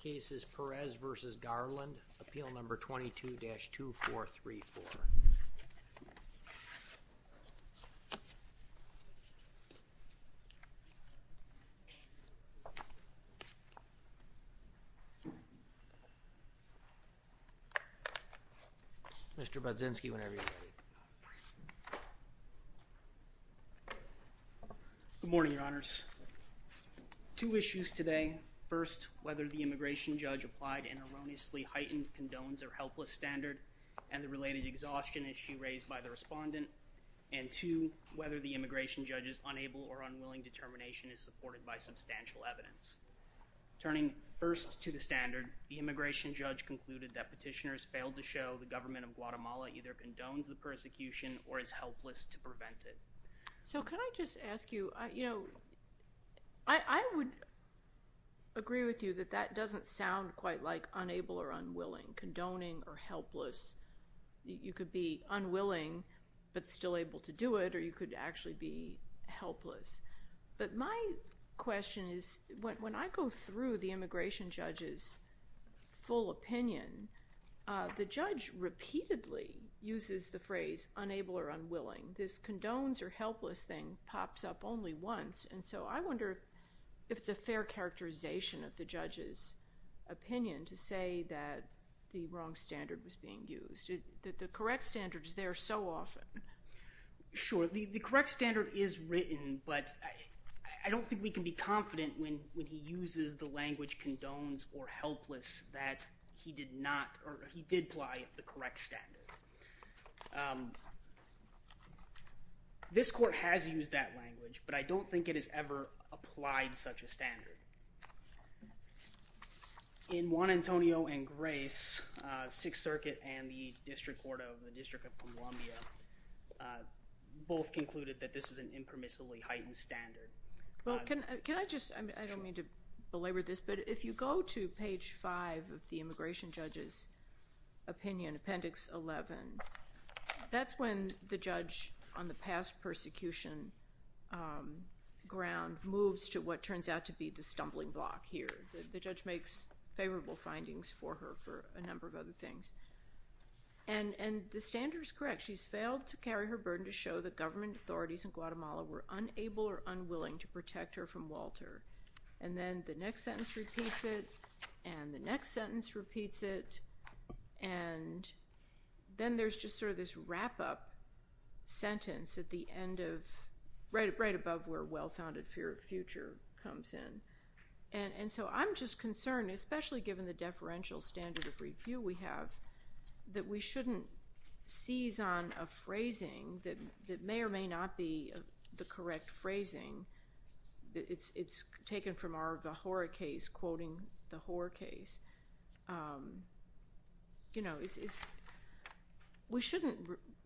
This case is Perez v. Garland, Appeal No. 22-2434. Mr. Budzinski, whenever you're ready. Two issues today. First, whether the immigration judge applied an erroneously heightened condones or helpless standard and the related exhaustion issue raised by the respondent. And two, whether the immigration judge's unable or unwilling determination is supported by substantial evidence. Turning first to the standard, the immigration judge concluded that petitioners failed to show the government of Guatemala either condones the persecution or is helpless to prevent it. So can I just ask you, you know, I would agree with you that that doesn't sound quite like unable or unwilling, condoning or helpless. You could be unwilling but still able to do it or you could actually be helpless. But my question is, when I go through the immigration judge's full opinion, the condones or helpless thing pops up only once. And so I wonder if it's a fair characterization of the judge's opinion to say that the wrong standard was being used. That the correct standard is there so often. Sure, the correct standard is written but I don't think we can be confident when when he uses the language condones or helpless that he did not or he did apply the correct standard. This court has used that language but I don't think it has ever applied such a standard. In Juan Antonio and Grace, Sixth Circuit and the District Court of the District of Columbia both concluded that this is an impermissibly heightened standard. Well can I just, I don't mean to belabor this, but if you go to page 5 of the immigration judge's opinion, appendix 11, that's when the judge on the past persecution ground moves to what turns out to be the stumbling block here. The judge makes favorable findings for her for a number of other things. And the standard is correct. She's failed to carry her burden to show that government authorities in Guatemala were unable or And the next sentence repeats it. And then there's just sort of this wrap-up sentence at the end of, right above where well-founded fear of future comes in. And so I'm just concerned, especially given the deferential standard of review we have, that we shouldn't seize on a phrasing that may or may not be the correct phrasing. It's taken from the horror case, quoting the horror case. You know, we shouldn't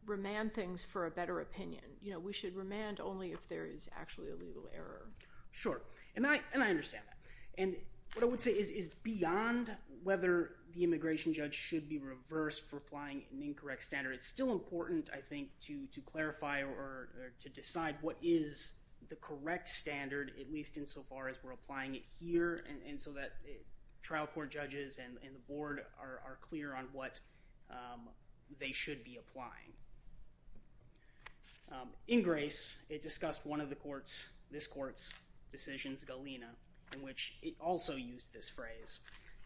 remand things for a better opinion. You know, we should remand only if there is actually a legal error. Sure, and I understand that. And what I would say is beyond whether the immigration judge should be reversed for applying an incorrect standard, it's still important, I think, to clarify or to decide what is the correct standard, at least insofar as we're applying it here, and so that trial court judges and the board are clear on what they should be applying. In Grace, it discussed one of the court's, this court's, decisions, Galena, in which it also used this phrase.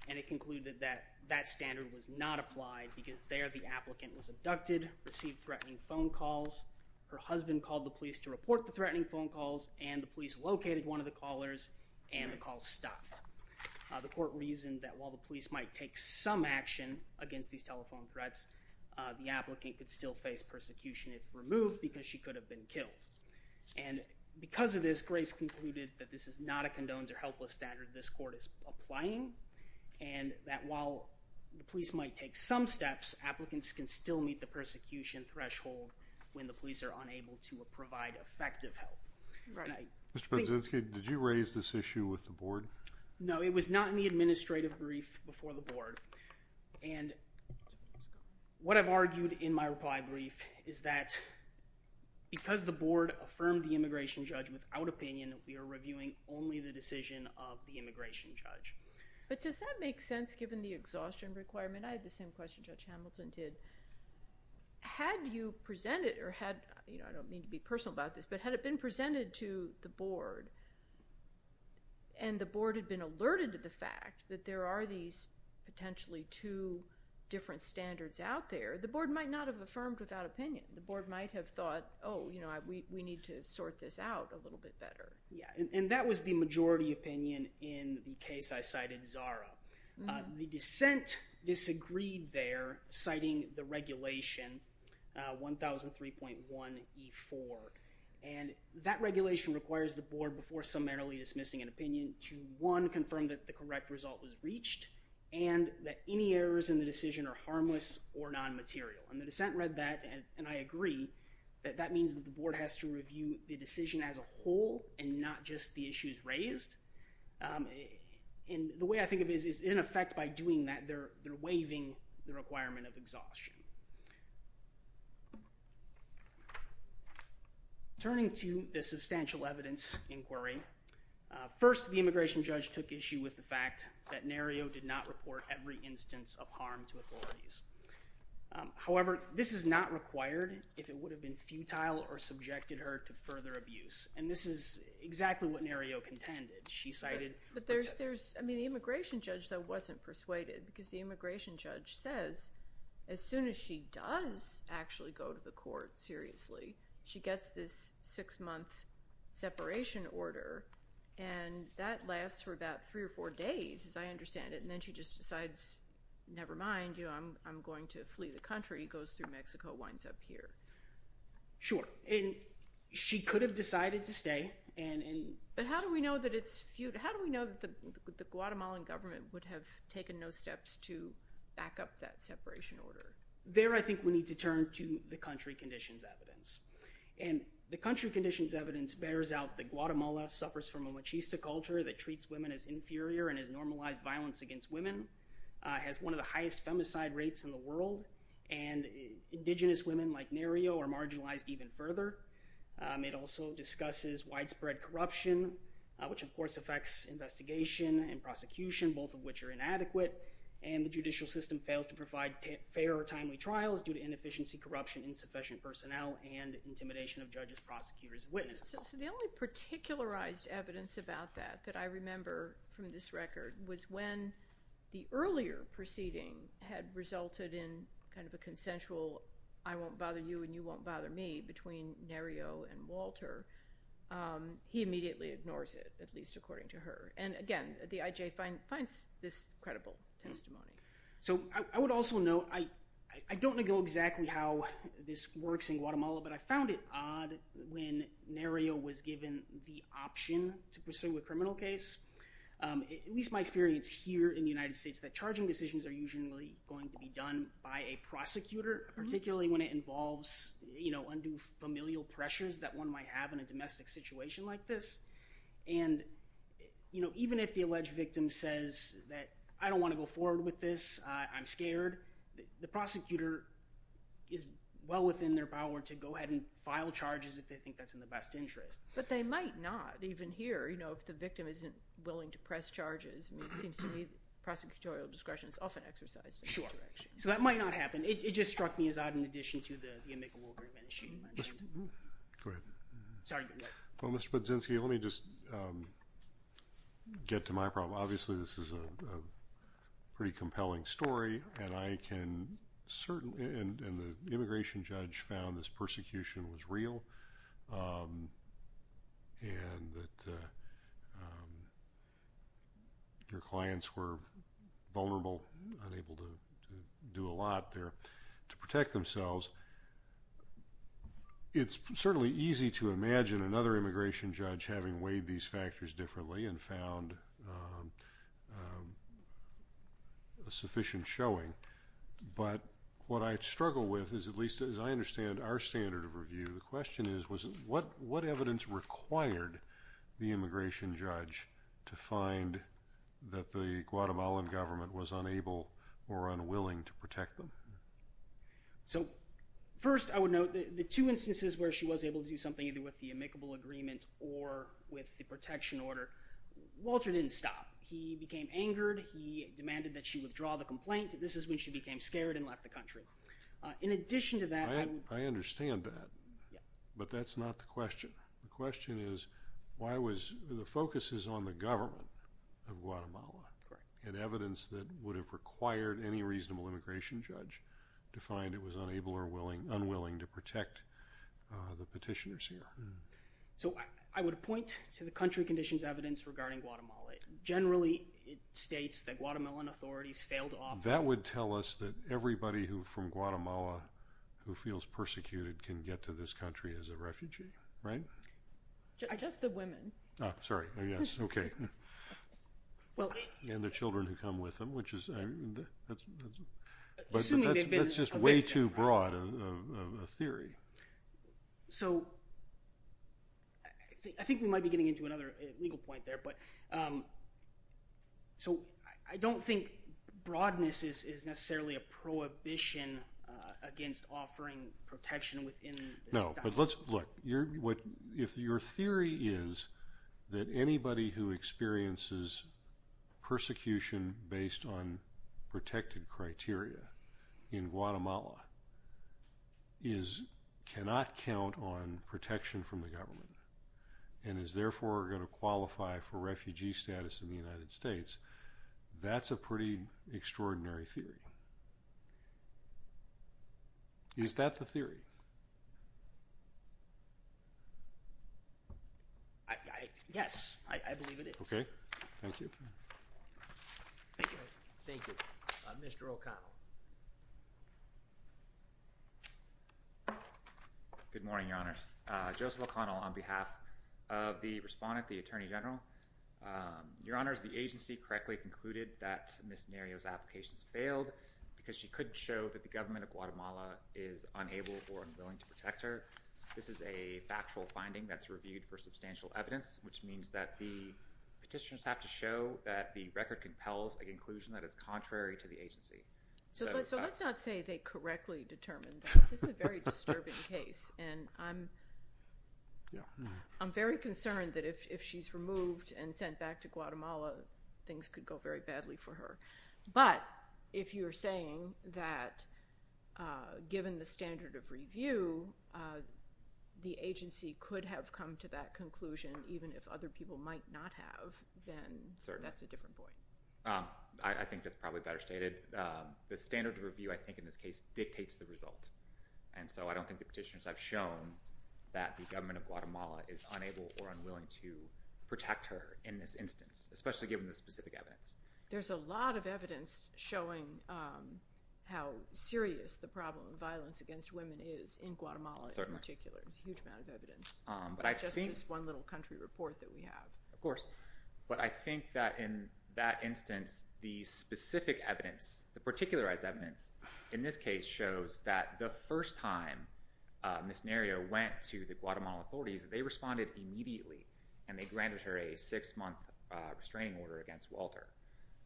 And it concluded that that standard was not applied because there the applicant was threatening phone calls, her husband called the police to report the threatening phone calls, and the police located one of the callers, and the call stopped. The court reasoned that while the police might take some action against these telephone threats, the applicant could still face persecution if removed because she could have been killed. And because of this, Grace concluded that this is not a condones or helpless standard this court is applying, and that while the police might take some steps, applicants can still meet the threshold when the police are unable to provide effective help. Mr. Penzinski, did you raise this issue with the board? No, it was not in the administrative brief before the board, and what I've argued in my reply brief is that because the board affirmed the immigration judge without opinion, we are reviewing only the decision of the immigration judge. But does that make sense given the exhaustion requirement? I had the same question Judge Hamilton did. Had you presented, or had, you know, I don't mean to be personal about this, but had it been presented to the board, and the board had been alerted to the fact that there are these potentially two different standards out there, the board might not have affirmed without opinion. The board might have thought, oh, you know, we need to sort this out a little bit better. Yeah, and that was the majority opinion in the case I cited Zara. The dissent disagreed there, citing the regulation 1003.1E4, and that regulation requires the board, before summarily dismissing an opinion, to one, confirm that the correct result was reached, and that any errors in the decision are harmless or non-material. And the dissent read that, and I agree, that that means that the board has to review the decision as a whole and not just the issues raised. And the way I think of it is, in effect, by doing that they're waiving the requirement of exhaustion. Turning to the substantial evidence inquiry, first the immigration judge took issue with the fact that Nario did not report every instance of harm to authorities. However, this is not required if it would have been futile or subjected her to further abuse, and this is exactly what Nario contended. She cited... But there's, I mean, the immigration judge that wasn't persuaded, because the immigration judge says as soon as she does actually go to the court seriously, she gets this six-month separation order, and that lasts for about three or four days, as I understand it, and then she just decides, never mind, you know, I'm going to flee the country, goes through and... But how do we know that it's futile? How do we know that the Guatemalan government would have taken no steps to back up that separation order? There I think we need to turn to the country conditions evidence. And the country conditions evidence bears out that Guatemala suffers from a machista culture that treats women as inferior and has normalized violence against women, has one of the highest femicide rates in the world, and indigenous women like Nario are marginalized even further. It also discusses widespread corruption, which of course affects investigation and prosecution, both of which are inadequate, and the judicial system fails to provide fair or timely trials due to inefficiency, corruption, insufficient personnel, and intimidation of judges, prosecutors, witnesses. So the only particularized evidence about that that I remember from this record was when the earlier proceeding had resulted in kind of a consensual, I won't bother you and you won't bother me, between Nario and Walter, he immediately ignores it, at least according to her. And again, the IJ finds this credible testimony. So I would also note, I don't know exactly how this works in Guatemala, but I found it odd when Nario was given the option to pursue a criminal case. At least my experience here in the United States, that charging decisions are usually going to be done by a prosecutor, particularly when it involves, you know, undue familial pressures that one might have in a domestic situation like this. And, you know, even if the alleged victim says that, I don't want to go forward with this, I'm scared, the prosecutor is well within their power to go ahead and file charges if they think that's in the best interest. But they might not, even here, you know, if the victim isn't willing to press charges, it seems to me prosecutorial discretion is often exercised in this direction. So that might not happen. It just struck me as odd in addition to the amicable remuneration you mentioned. Go ahead. Sorry, go ahead. Well, Mr. Budzinski, let me just get to my problem. Obviously, this is a pretty compelling story and I can certainly... And the immigration judge found this persecution was real and that your clients were vulnerable, unable to do a lot there, to protect themselves. It's certainly easy to imagine another immigration judge having weighed these factors differently and found a sufficient showing. But what I struggle with is, at least as I understand our standard of review, the question is, was what evidence required the immigration judge to find that the Guatemalan government was unable or unwilling to protect them? So, first, I would note that the two instances where she was able to do something either with the amicable agreement or with the protection order, Walter didn't stop. He became angered. He demanded that she withdraw the complaint. This is when she became scared and left the country. In addition to that... I understand that. Yeah. But that's not the question. The question is, why was... The focus is on the government of Guatemala and evidence that would have required any reasonable immigration judge to find it was unable or unwilling to protect the petitioners here. So, I would point to the country conditions evidence regarding Guatemala. It generally states that Guatemalan authorities failed to offer... That would tell us that everybody from Guatemala who feels persecuted can get to this country as a refugee, right? Just the women. Oh, sorry. Oh, yes. Okay. Well... And the children who come with them, which is... Assuming they've been... That's just way too broad of a theory. So, I think we might be getting into another legal point there, but... So, I don't think broadness is necessarily a prohibition against offering protection within... No, but let's... Look, if your theory is that anybody who experiences persecution based on protected criteria in Guatemala cannot count on protection from the government and is therefore gonna qualify for refugee status in the United States, that's a pretty extraordinary theory. Is that the theory? Yes, I believe it is. Okay. Thank you. Thank you. Thank you. Mr. O'Connell. Good morning, Your Honors. Joseph O'Connell, on behalf of the respondent, the Attorney General. Your Honors, the agency correctly concluded that Ms. Nerio's applications failed because she couldn't show that the government of Guatemala is unable or unwilling to protect her. This is a factual finding that's reviewed for substantial evidence, which means that the petitioners have to show that the record compels an inclusion that is contrary to the agency. So, let's not say they correctly determined that. This is a very disturbing case and I'm... Yeah. I'm very concerned that if she's removed and sent back to Guatemala, things could go very badly for her. But if you're saying that given the standard of review, the agency could have come to that conclusion even if other people might not have, then, sir, that's a different point. I think that's probably better stated. The standard of review, I think in this case, dictates the result. And so, I don't think the petitioners have shown that the government of Guatemala is unable or unwilling to protect her in this instance, especially given the specific evidence. There's a lot of evidence showing how serious the problem of violence against women is in Guatemala in particular. There's a huge amount of evidence. But I think... It's just this one little country report that we have. Of course. But I think that in that instance, the specific evidence, the particularized evidence, in this case, shows that the first time Ms. Nerio went to the Guatemalan authorities, they responded immediately and they granted her a six-month restraining order against Walter.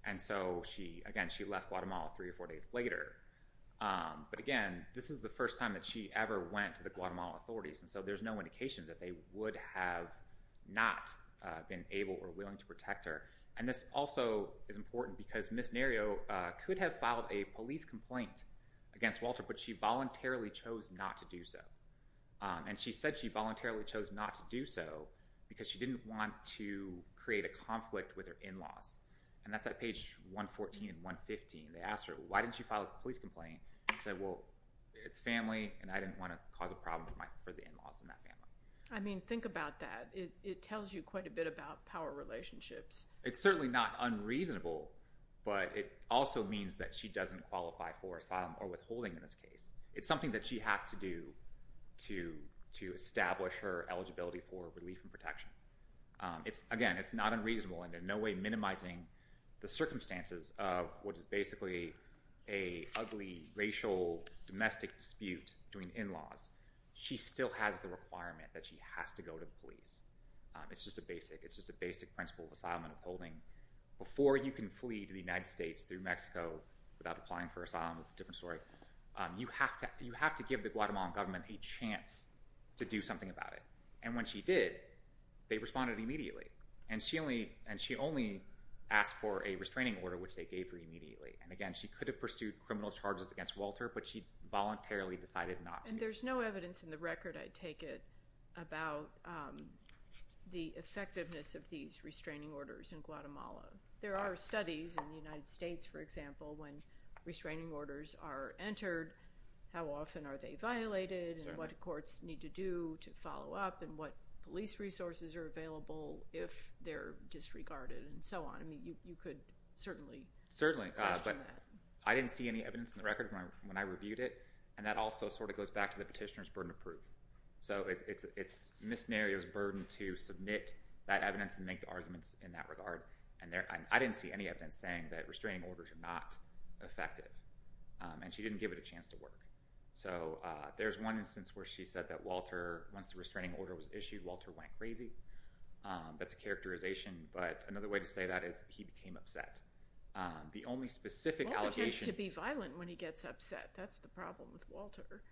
And so, again, she left Guatemala three or four days later. But again, this is the first time that she ever went to the Guatemalan authorities. And so, there's no indication that they would have not been able or willing to protect her. And this also is important because Ms. Nerio could have filed a police complaint against Walter, but she voluntarily chose not to do so. And she said she voluntarily chose not to do so because she didn't want to create a conflict with her in-laws. And that's at page 114 and 115. They asked her, why didn't you file a police complaint? She said, well, it's family and I didn't want to cause a problem for the in-laws in that family. I mean, think about that. It tells you quite a bit about power relationships. It's certainly not unreasonable, but it also means that she doesn't qualify for asylum or withholding in this case. It's something that she has to do to to establish her eligibility for relief and protection. It's, again, it's not unreasonable and in no way minimizing the circumstances of what is basically a ugly racial domestic dispute between in-laws. She still has the requirement that she has to go to the police. It's just a basic, it's just a basic principle of asylum and withholding. Before you can flee to the without applying for asylum, it's a different story. You have to, you have to give the Guatemalan government a chance to do something about it. And when she did, they responded immediately. And she only, and she only asked for a restraining order, which they gave her immediately. And again, she could have pursued criminal charges against Walter, but she voluntarily decided not to. And there's no evidence in the record, I take it, about the effectiveness of these restraining orders in Guatemala. There are studies in the United States, for example, when restraining orders are entered, how often are they violated and what courts need to do to follow up and what police resources are available if they're disregarded and so on. I mean, you could certainly. Certainly, but I didn't see any evidence in the record when I reviewed it. And that also sort of goes back to the petitioner's burden of proof. So, it's Ms. Neria's burden to submit that evidence and make the arguments in that regard. And there, I didn't see any evidence saying that restraining orders are not effective. And she didn't give it a chance to work. So, there's one instance where she said that Walter, once the restraining order was issued, Walter went crazy. That's a characterization, but another way to say that is, he became upset. The only specific allegation to be violent when he gets upset. That's the problem with Walter.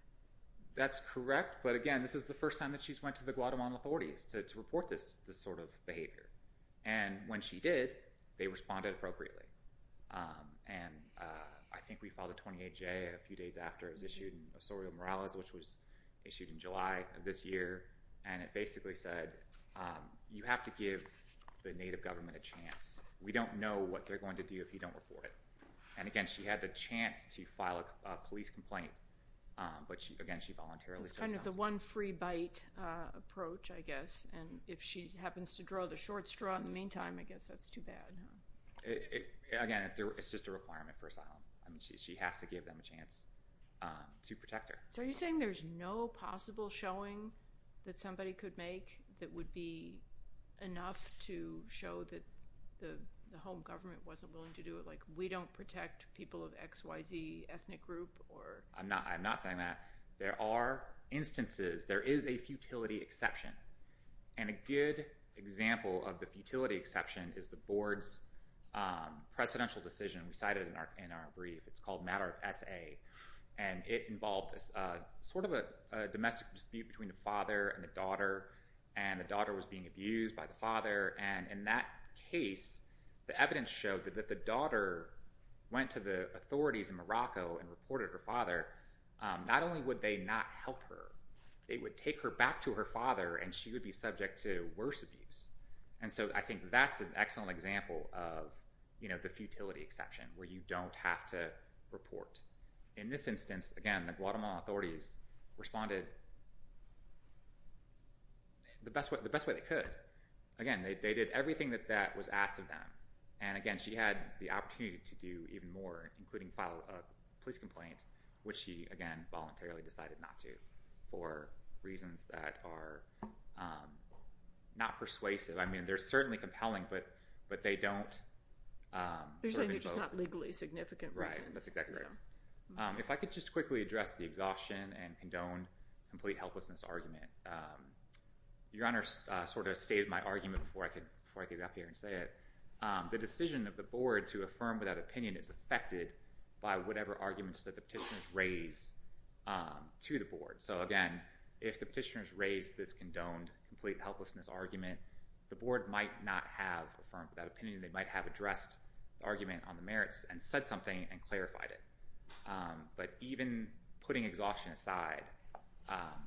That's correct, but again, this is the first time that she's went to the Guatemalan authorities to they responded appropriately. And I think we filed a 28-J a few days after it was issued in Osorio Morales, which was issued in July of this year. And it basically said, you have to give the native government a chance. We don't know what they're going to do if you don't report it. And again, she had the chance to file a police complaint, but she again, she voluntarily. It's kind of the one free bite approach, I guess. And if she happens to draw the short straw in the Again, it's just a requirement for asylum. I mean, she has to give them a chance to protect her. So, are you saying there's no possible showing that somebody could make that would be enough to show that the home government wasn't willing to do it? Like, we don't protect people of XYZ ethnic group? I'm not, I'm not saying that. There are instances, there is a futility exception. And a good example of the futility exception is the board's precedential decision we cited in our brief. It's called Matter of S.A. And it involved this sort of a domestic dispute between the father and the daughter. And the daughter was being abused by the father. And in that case, the evidence showed that the daughter went to the authorities in Morocco and reported her father. Not only would they not help her, they would take her back to her father and she would be subject to worse abuse. And so I think that's an excellent example of, you know, the futility exception where you don't have to report. In this instance, again, the Guatemala authorities responded the best way, the best way they could. Again, they did everything that that was asked of them. And again, she had the opportunity to do even more, including file a police complaint, which she again, voluntarily decided not to, for reasons that are not persuasive. I mean, they're certainly compelling, but they don't. They're saying they're just not legally significant reasons. Right, that's exactly right. If I could just quickly address the exhaustion and condone complete helplessness argument. Your Honor sort of stated my argument before I could get up here and say it. The decision of the board to affirm without opinion is affected by whatever arguments that the petitioners raise to the board. So again, if the petitioners raise this condoned complete helplessness argument, the board might not have affirmed without opinion. They might have addressed the argument on the merits and said something and clarified it. But even putting exhaustion aside,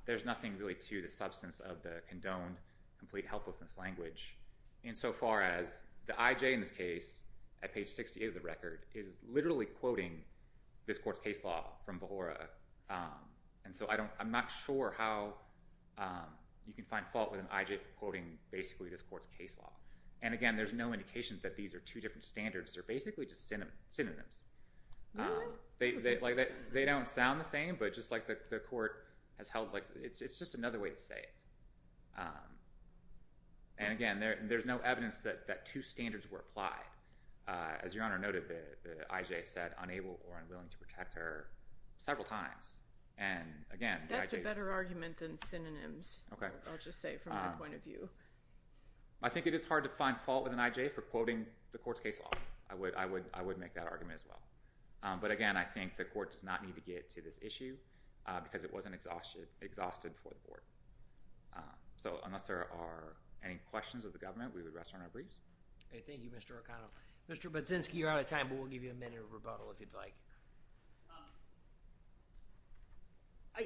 there's nothing really to the substance of the condoned complete helplessness language insofar as the IJ in this case at page 68 of the record is literally quoting this court's case law from Behora. And so I'm not sure how you can find fault with an IJ quoting basically this court's case law. And again, there's no indication that these are two different standards. They're basically just synonyms. They don't sound the same, but just like the court has held, it's just another way to say it. And again, there's no evidence that two standards were applied. As Your Honor noted, the IJ said unable or unwilling to protect her several times. And again, the IJ- That's a better argument than synonyms, I'll just say from my point of view. I think it is hard to find fault with an IJ for quoting the court's case law. I would make that argument as well. But again, I think the court does not need to get to this issue because it wasn't exhausted for the board. So unless there are any questions of the government, we would rest on our briefs. Thank you, Mr. O'Connell. Mr. Budzinski, you're out of time, but we'll give you a minute of rebuttal if you'd like.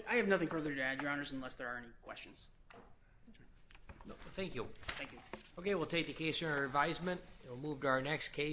I have nothing further to add, Your Honors, unless there are any questions. Thank you. Thank you. Okay, we'll take the case in our advisement. We'll move to our next case.